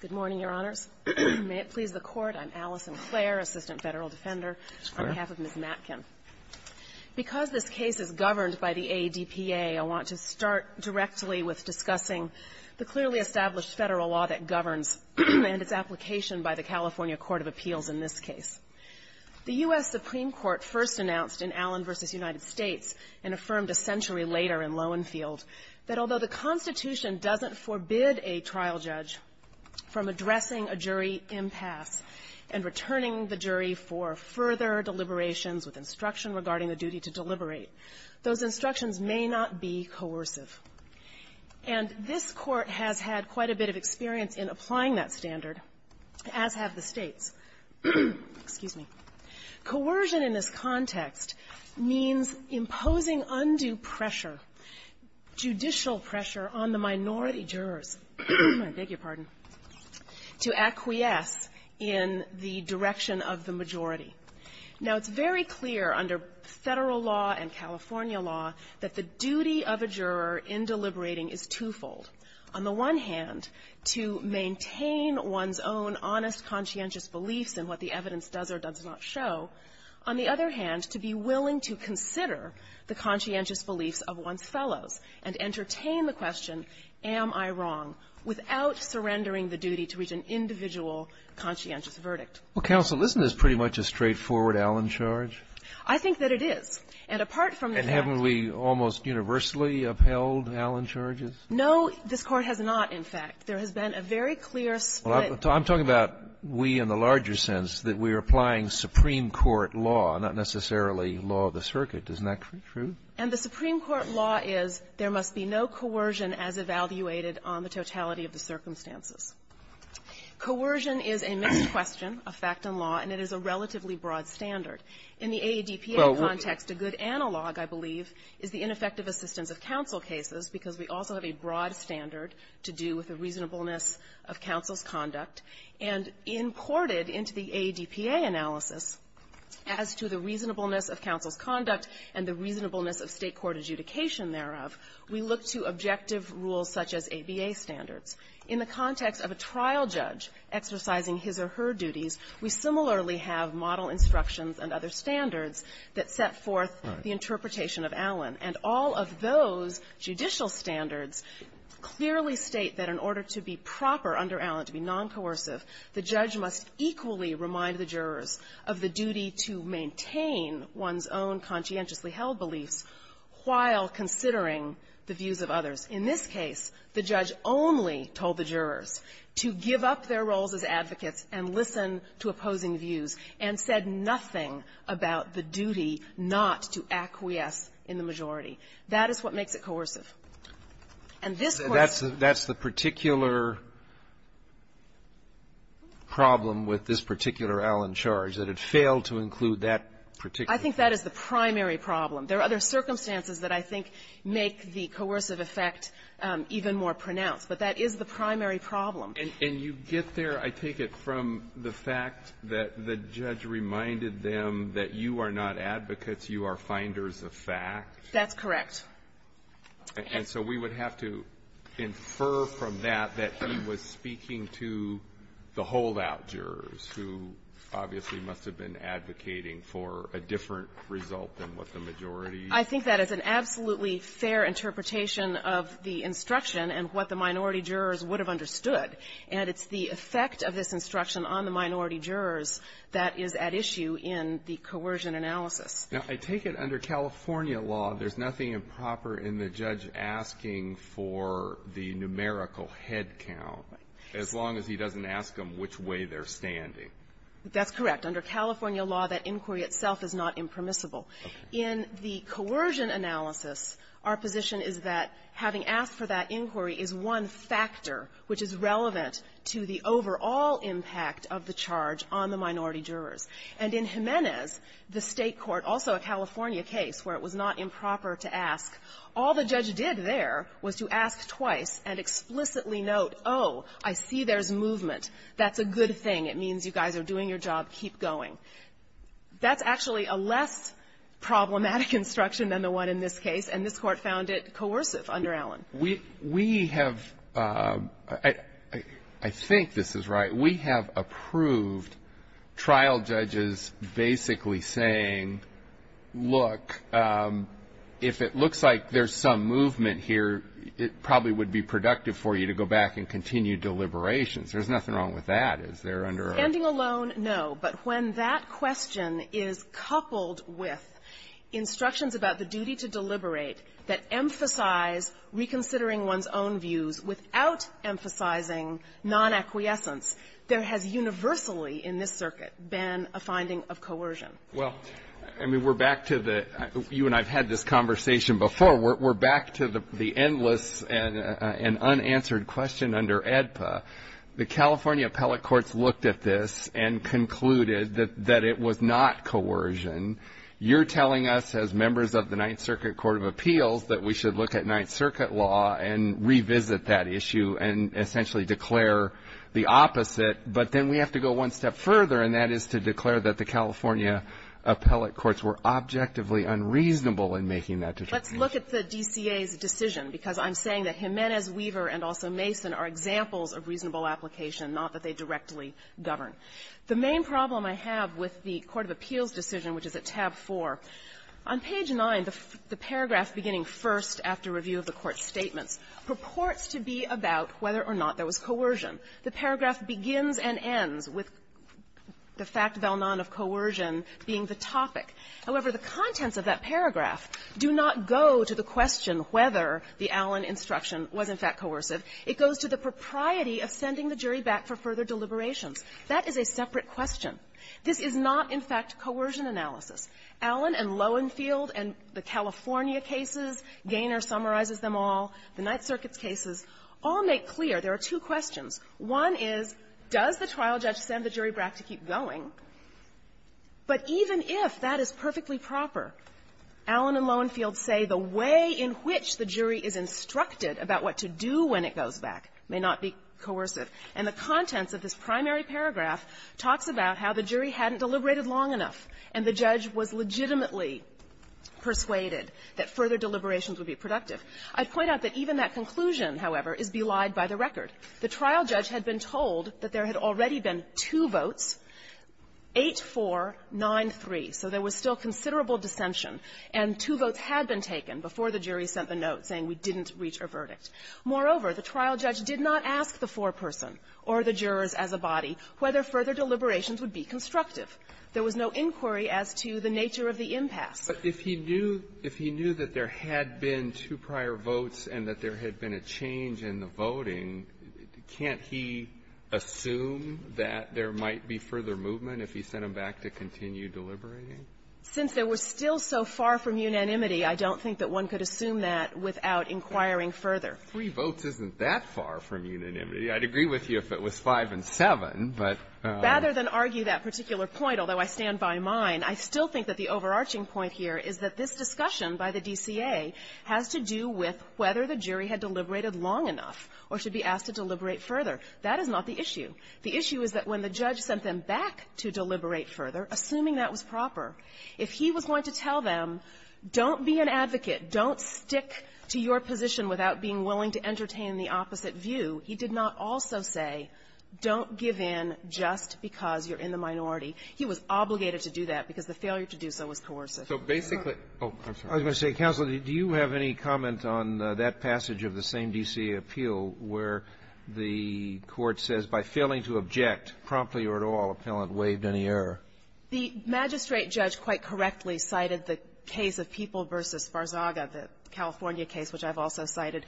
Good morning, Your Honors. May it please the Court, I'm Allison Clare, Assistant Federal Defender, on behalf of Ms. Matkin. Because this case is governed by the ADPA, I want to start directly with discussing the clearly established Federal law that governs and its application by the California Court of Appeals in this case. The U.S. Supreme Court first announced in Allen v. United States, and affirmed a century later in Lowenfield, that although the Constitution doesn't forbid a trial judge from addressing a jury impasse and returning the jury for further deliberations with instruction regarding the duty to deliberate, those instructions may not be coercive. And this Court has had quite a bit of experience in applying that standard, as have the States. Excuse me. Coercion in this context means imposing undue pressure, judicial pressure, on the minority jurors, I beg your pardon, to acquiesce in the direction of the majority. Now, it's very clear under Federal law and California law that the duty of a juror in deliberating is twofold. On the one hand, to maintain one's own honest, conscientious beliefs in what the evidence does or does not show. On the other hand, to be willing to consider the conscientious beliefs of one's fellows and entertain the question, am I wrong, without surrendering the duty to reach an individual conscientious verdict. Well, counsel, isn't this pretty much a straightforward Allen charge? I think that it is. And apart from the fact that we almost universally upheld Allen charges? No, this Court has not, in fact. There has been a very clear split. I'm talking about we in the larger sense, that we are applying supreme court law, not necessarily law of the circuit. Isn't that true? And the supreme court law is there must be no coercion as evaluated on the totality of the circumstances. Coercion is a mixed question of fact and law, and it is a relatively broad standard. In the AADPA context, a good analog, I believe, is the ineffective assistance of counsel cases, because we also have a broad standard to do with the reasonableness of counsel's conduct. And imported into the AADPA analysis as to the reasonableness of counsel's conduct and the reasonableness of State court adjudication thereof, we look to objective rules such as ABA standards. In the context of a trial judge exercising his or her duties, we similarly have model instructions and other standards that set forth the interpretation of Allen. And all of those judicial standards clearly state that in order to be proper under Allen, to be noncoercive, the judge must equally remind the jurors of the duty to maintain one's own conscientiously held beliefs while considering the views of others. In this case, the judge only told the jurors to give up their roles as advocates and listen to opposing views, and said nothing about the duty not to acquiesce in the majority. That is what makes it coercive. And this question --" Roberts, that's the particular problem with this particular Allen charge, that it failed to include that particular --" I think that is the primary problem. There are other circumstances that I think make the coercive effect even more pronounced. But that is the primary problem. And you get there, I take it, from the fact that the judge reminded them that you are not advocates, you are finders of fact? That's correct. And so we would have to infer from that that he was speaking to the holdout jurors, who obviously must have been advocating for a different result than what the majority used. I think that is an absolutely fair interpretation of the instruction and what the minority jurors would have understood. And it's the effect of this instruction on the minority jurors that is at issue in the coercion analysis. Now, I take it under California law, there's nothing improper in the judge asking for the numerical head count as long as he doesn't ask them which way they're standing. That's correct. Under California law, that inquiry itself is not impermissible. In the coercion analysis, our position is that having asked for that inquiry is one factor which is relevant to the overall impact of the charge on the minority jurors. And in Jimenez, the State court, also a California case where it was not improper to ask, all the judge did there was to ask twice and explicitly note, oh, I see there's movement, that's a good thing, it means you guys are doing your job, keep going. That's actually a less problematic instruction than the one in this case, and this Court found it coercive under Allen. We have – I think this is right. We have approved trial judges basically saying, look, if it looks like there's some movement here, it probably would be productive for you to go back and continue deliberations. There's nothing wrong with that. Is there under our – Standing alone, no. Well, I mean, we're back to the – you and I have had this conversation before. We're back to the endless and unanswered question under AEDPA. The California appellate courts looked at this and concluded that it was not coercion. You're telling us, as members of the Ninth Circuit Court of Appeals, that it was not that we should look at Ninth Circuit law and revisit that issue and essentially declare the opposite, but then we have to go one step further, and that is to declare that the California appellate courts were objectively unreasonable in making that determination. Let's look at the DCA's decision, because I'm saying that Jimenez, Weaver, and also Mason are examples of reasonable application, not that they directly govern. The main problem I have with the court of appeals decision, which is at tab 4, on page 9, the paragraph beginning first after review of the court's statements, purports to be about whether or not there was coercion. The paragraph begins and ends with the fact val non of coercion being the topic. However, the contents of that paragraph do not go to the question whether the Allen instruction was, in fact, coercive. It goes to the propriety of sending the jury back for further deliberations. That is a separate question. This is not, in fact, coercion analysis. Allen and Lowenfield and the California cases, Gaynor summarizes them all, the Ninth Circuit's cases, all make clear there are two questions. One is, does the trial judge send the jury back to keep going? But even if that is perfectly proper, Allen and Lowenfield say the way in which the jury is instructed about what to do when it goes back may not be coercive. And the contents of this was legitimately persuaded that further deliberations would be productive. I'd point out that even that conclusion, however, is belied by the record. The trial judge had been told that there had already been two votes, 8-4-9-3. So there was still considerable dissension, and two votes had been taken before the jury sent the note saying we didn't reach a verdict. Moreover, the trial judge did not ask the foreperson or the jurors as a body whether further deliberations would be constructive. There was no inquiry as to the nature of the impasse. But if he knew that there had been two prior votes and that there had been a change in the voting, can't he assume that there might be further movement if he sent them back to continue deliberating? Since they were still so far from unanimity, I don't think that one could assume that without inquiring further. Three votes isn't that far from unanimity. I'd agree with you if it was 5 and 7, but — Rather than argue that particular point, although I stand by mine, I still think that the overarching point here is that this discussion by the DCA has to do with whether the jury had deliberated long enough or should be asked to deliberate further. That is not the issue. The issue is that when the judge sent them back to deliberate further, assuming that was proper, if he was going to tell them, don't be an advocate, don't stick to your position without being willing to entertain the opposite view, he did not also say, don't give in just because you're in the minority. He was obligated to do that because the failure to do so was coercive. So basically — I was going to say, Counsel, do you have any comment on that passage of the same DCA appeal where the Court says, by failing to object promptly or at all, appellant waived any error? The magistrate judge quite correctly cited the case of People v. Barzaga, the California case which I've also cited,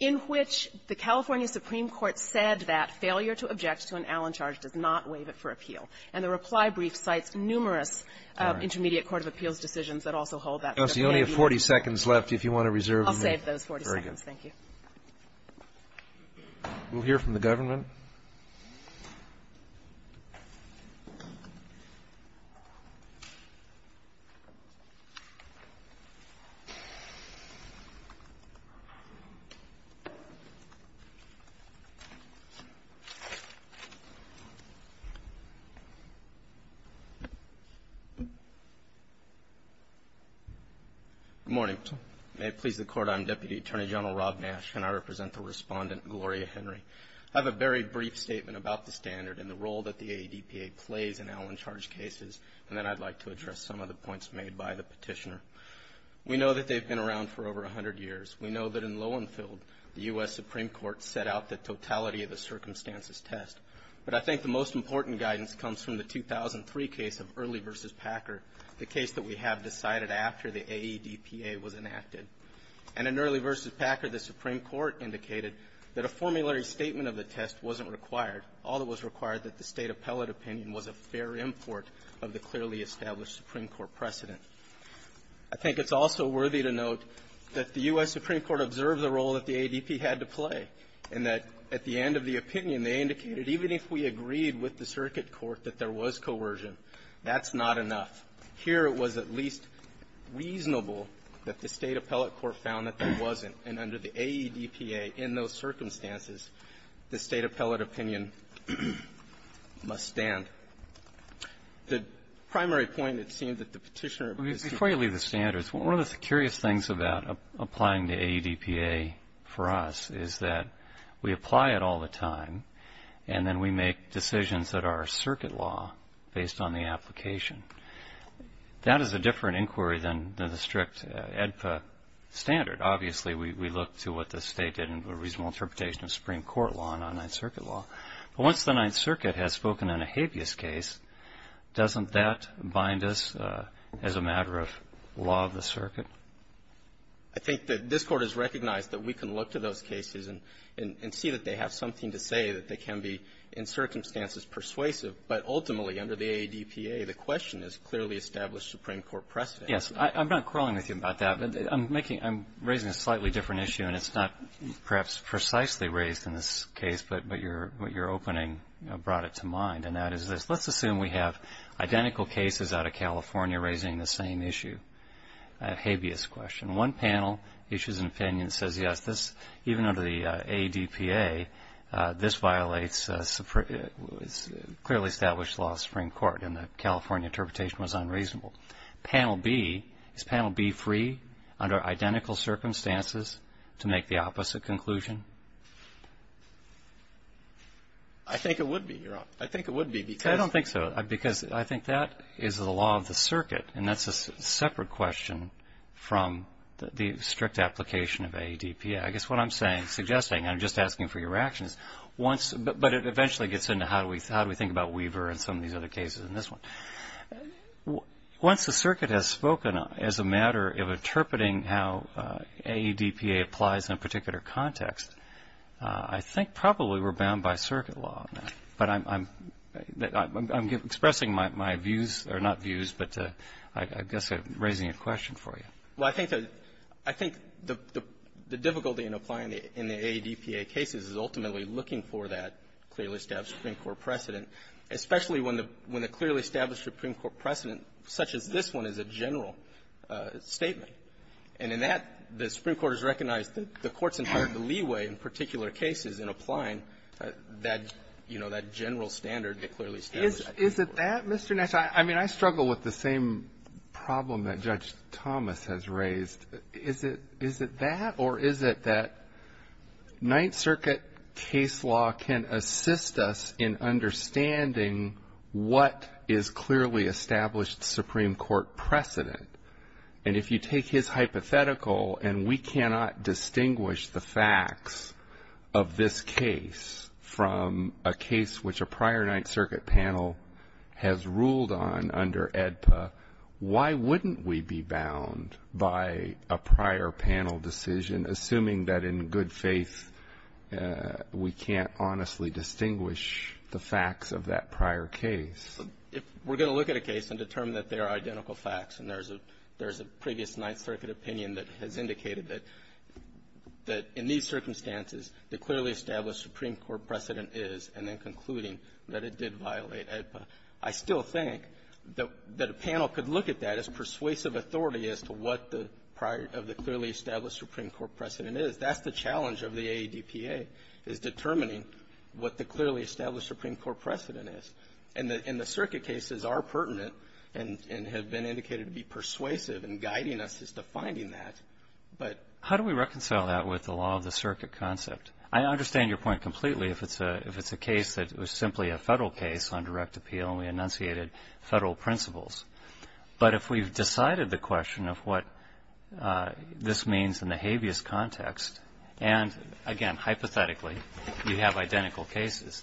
in which the California Supreme Court said that failure to object to an Allen charge does not waive it for appeal. And the reply brief cites numerous intermediate court of appeals decisions that also hold that. Kennedy, you only have 40 seconds left. If you want to reserve your minute, very good. I'll save those 40 seconds. Thank you. We'll hear from the government. Good morning. May it please the Court. I'm Deputy Attorney General Rob Nash, and I represent the respondent, Gloria Henry. I have a very brief statement about the standard and the role that the AEDPA plays in Allen charge cases, and then I'd like to address some of the points made by the petitioner. We know that they've been around for over 100 years. We know that in Lowenfeld, the U.S. Supreme Court set out the totality of the circumstances test. But I think the most important guidance comes from the 2003 case of Early v. Packer, the case that we have decided after the AEDPA was enacted. And in Early v. Packer, the Supreme Court indicated that a formulary statement of the test wasn't required. All that was required that the State appellate opinion was a fair import of the clearly established Supreme Court precedent. I think it's also worthy to note that the U.S. Supreme Court observed the role that the AEDPA had to play, and that at the end of the opinion, they indicated even if we agreed with the circuit court that there was coercion, that's not enough. Here it was at least reasonable that the State appellate court found that there wasn't, and under the AEDPA, in those circumstances, the State appellate opinion must stand. The primary point, it seems, that the petitioner of the Supreme Court ---- Breyer. Before you leave the standards, one of the curious things about applying to AEDPA for us is that we apply it all the time, and then we make decisions that are circuit law based on the application. That is a different inquiry than the strict AEDPA standard. Obviously, we look to what the State did in the reasonable interpretation of Supreme Court law and on Ninth Circuit law. But once the Ninth Circuit has spoken on a habeas case, doesn't that bind us as a matter of law of the circuit? I think that this Court has recognized that we can look to those cases and see that they have something to say that they can be in circumstances persuasive. But ultimately, under the AEDPA, the question is clearly established Supreme Court precedent. Yes. I'm not quarreling with you about that, but I'm raising a slightly different issue, and it's not perhaps precisely raised in this case, but your opening brought it to mind, and that is this. Let's assume we have identical cases out of California raising the same issue, a habeas question. One panel issues an opinion that says, yes, even under the AEDPA, this violates clearly established law of the Supreme Court. Panel B, is Panel B free, under identical circumstances, to make the opposite conclusion? I think it would be, Your Honor. I think it would be, because... I don't think so, because I think that is the law of the circuit, and that's a separate question from the strict application of AEDPA. I guess what I'm saying, suggesting, and I'm just asking for your reactions, once, but it eventually gets into how do we think about Weaver and some of these other cases in this one. Once the circuit has spoken, as a matter of interpreting how AEDPA applies in a particular context, I think probably we're bound by circuit law. But I'm expressing my views or not views, but I guess I'm raising a question for you. Well, I think the difficulty in applying it in the AEDPA cases is ultimately looking for that clearly established Supreme Court precedent, especially when the clearly established Supreme Court precedent, such as this one, is a general statement. And in that, the Supreme Court has recognized the Court's intent to leeway, in particular cases, in applying that, you know, that general standard that clearly establishes the Supreme Court. Is it that, Mr. Nassar? I mean, I struggle with the same problem that Judge Thomas has raised. Is it that, or is it that Ninth Circuit case law can assist us in understanding what is clearly established Supreme Court precedent? And if you take his hypothetical, and we cannot distinguish the facts of this case from a case which a prior Ninth Circuit panel has ruled on under AEDPA, why wouldn't we be bound by a prior panel decision, assuming that, in good faith, we can't honestly distinguish the facts of that prior case? If we're going to look at a case and determine that they are identical facts, and there's a previous Ninth Circuit opinion that has indicated that in these circumstances the clearly established Supreme Court precedent is, and then concluding that it did not, and then determining what the prior of the clearly established Supreme Court precedent is, that's the challenge of the AEDPA, is determining what the clearly established Supreme Court precedent is. And the circuit cases are pertinent and have been indicated to be persuasive in guiding us as to finding that. But how do we reconcile that with the law of the circuit concept? I understand your point completely if it's a case that was simply a Federal case on direct appeal, and we enunciated Federal principles. But if we've decided the question of what this means in the habeas context, and, again, hypothetically, you have identical cases,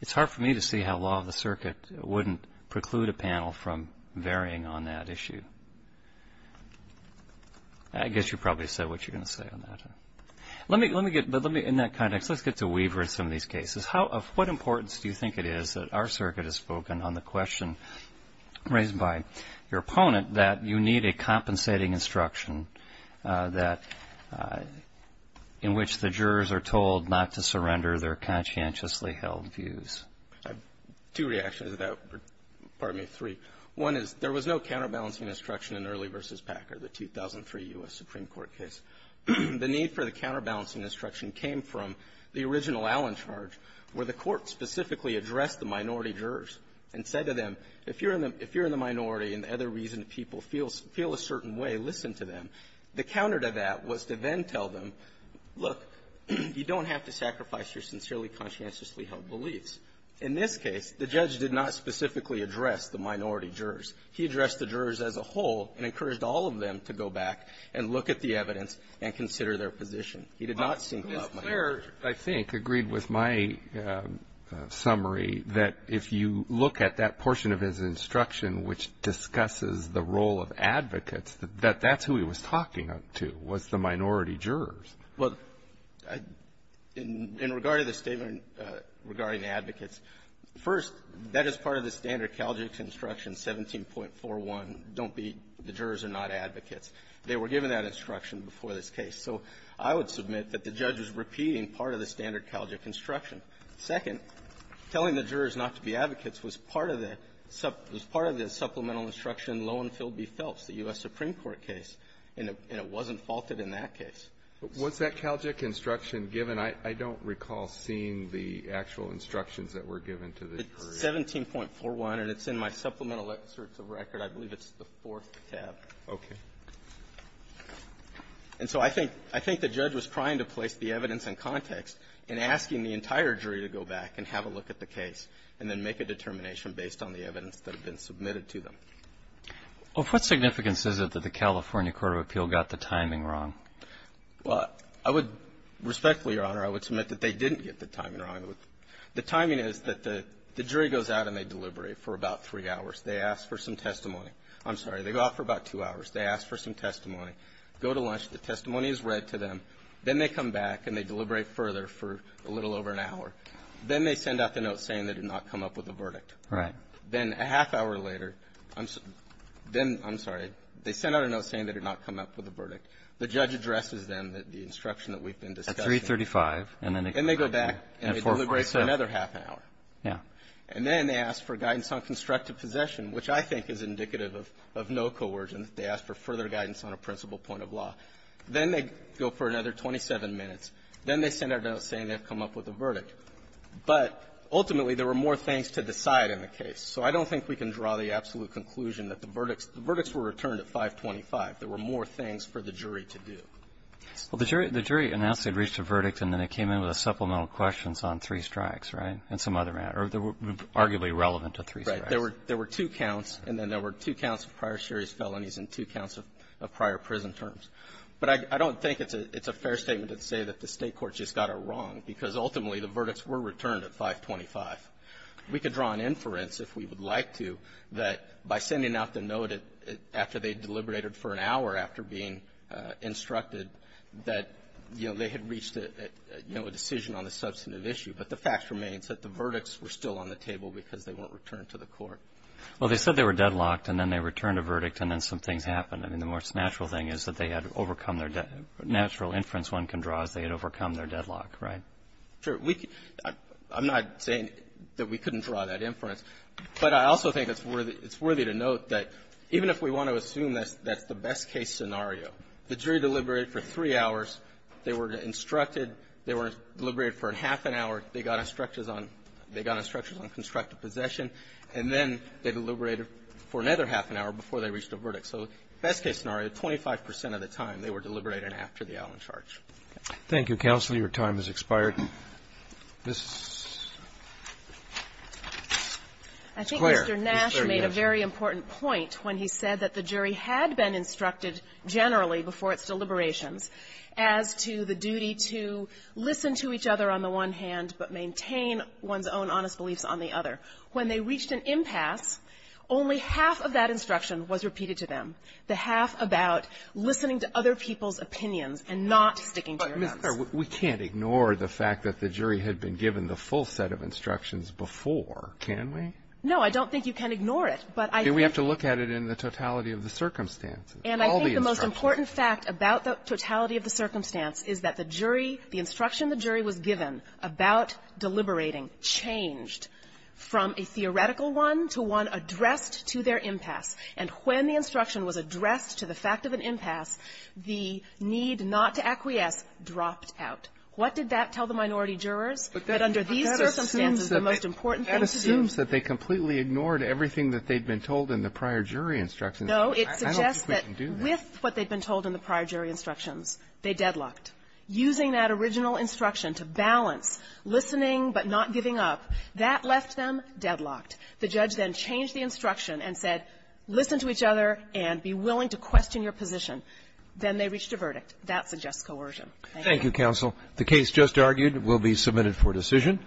it's hard for me to see how law of the circuit wouldn't preclude a panel from varying on that issue. I guess you probably said what you were going to say on that. But in that context, let's get to Weaver and some of these cases. Of what importance do you think it is that our circuit has spoken on the question raised by your opponent that you need a compensating instruction that, in which the jurors are told not to surrender their conscientiously held views? Two reactions to that. Pardon me, three. One is there was no counterbalancing instruction in Early v. Packer, the 2003 U.S. Supreme Court case. The need for the court specifically addressed the minority jurors and said to them, if you're in the minority and the other reason people feel a certain way, listen to them. The counter to that was to then tell them, look, you don't have to sacrifice your sincerely conscientiously held beliefs. In this case, the judge did not specifically address the minority jurors. He addressed the jurors as a whole and encouraged all of them to go back and look at the evidence and consider their position. He did not sync up minority jurors. Mr. Clare, I think, agreed with my summary that if you look at that portion of his instruction which discusses the role of advocates, that that's who he was talking to was the minority jurors. Well, in regard to the statement regarding advocates, first, that is part of the standard Calgary instruction, 17.41, don't be the jurors are not advocates. They were given that instruction before this case. So I would submit that the judge was repeating part of the standard Calgary instruction. Second, telling the jurors not to be advocates was part of the supplemental instruction Loewenfeld v. Phelps, the U.S. Supreme Court case, and it wasn't faulted in that case. But was that Calgary instruction given? I don't recall seeing the actual instructions that were given to the jury. It's 17.41, and it's in my supplemental excerpts of record. I believe it's the fourth tab. Okay. And so I think the judge was trying to place the evidence in context and asking the entire jury to go back and have a look at the case and then make a determination based on the evidence that had been submitted to them. Well, what significance is it that the California Court of Appeal got the timing wrong? Well, I would respectfully, Your Honor, I would submit that they didn't get the timing wrong. The timing is that the jury goes out and they deliberate for about three hours. They ask for some testimony. I'm sorry. They go out for about two hours. They ask for some testimony, go to lunch. The testimony is read to them. Then they come back and they deliberate further for a little over an hour. Then they send out the note saying they did not come up with a verdict. Right. Then a half hour later, I'm sorry, they send out a note saying they did not come up with a verdict. The judge addresses them, the instruction that we've been discussing. At 335, and then they go back and deliberate for another half an hour. Yeah. And then they ask for guidance on constructive possession, which I think is indicative of no coercion. They ask for further guidance on a principal point of law. Then they go for another 27 minutes. Then they send out a note saying they've come up with a verdict. But ultimately, there were more things to decide in the case. So I don't think we can draw the absolute conclusion that the verdicts were returned at 525. There were more things for the jury to do. Well, the jury announced they'd reached a verdict, and then they came in with a supplemental strikes. Right. There were two counts, and then there were two counts of prior series felonies and two counts of prior prison terms. But I don't think it's a fair statement to say that the State court just got it wrong, because ultimately, the verdicts were returned at 525. We could draw an inference, if we would like to, that by sending out the note after they deliberated for an hour after being instructed that, you know, they had reached a, you know, a decision on the substantive issue. But the fact remains that the verdicts were still on the table because they weren't returned to the court. Well, they said they were deadlocked, and then they returned a verdict, and then some things happened. I mean, the most natural thing is that they had overcome their natural inference one can draw is they had overcome their deadlock, right? Sure. We could – I'm not saying that we couldn't draw that inference, but I also think it's worthy to note that even if we want to assume that's the best-case scenario, the jury deliberated for three hours. They were instructed. They were deliberated for half an hour. They got instructions on – they got instructions on constructive possession, and then they deliberated for another half an hour before they reached a verdict. So best-case scenario, 25 percent of the time, they were deliberated after the Allen charge. Thank you, counsel. Your time has expired. Ms. Clare. I think Mr. Nash made a very important point when he said that the jury had been to listen to each other on the one hand, but maintain one's own honest beliefs on the other. When they reached an impasse, only half of that instruction was repeated to them, the half about listening to other people's opinions and not sticking to your own. But, Ms. Clare, we can't ignore the fact that the jury had been given the full set of instructions before, can we? No, I don't think you can ignore it, but I think – We have to look at it in the totality of the circumstances. And I think the most important fact about the totality of the circumstance is that the jury, the instruction the jury was given about deliberating changed from a theoretical one to one addressed to their impasse. And when the instruction was addressed to the fact of an impasse, the need not to acquiesce dropped out. What did that tell the minority jurors? But under these circumstances, the most important thing to do – But that assumes that they completely ignored everything that they'd been told in the prior jury instructions. No. I don't think we can do that. With what they'd been told in the prior jury instructions, they deadlocked. Using that original instruction to balance listening but not giving up, that left them deadlocked. The judge then changed the instruction and said, listen to each other and be willing to question your position. Then they reached a verdict. That suggests coercion. Thank you. Thank you, counsel. The case just argued will be submitted for decision.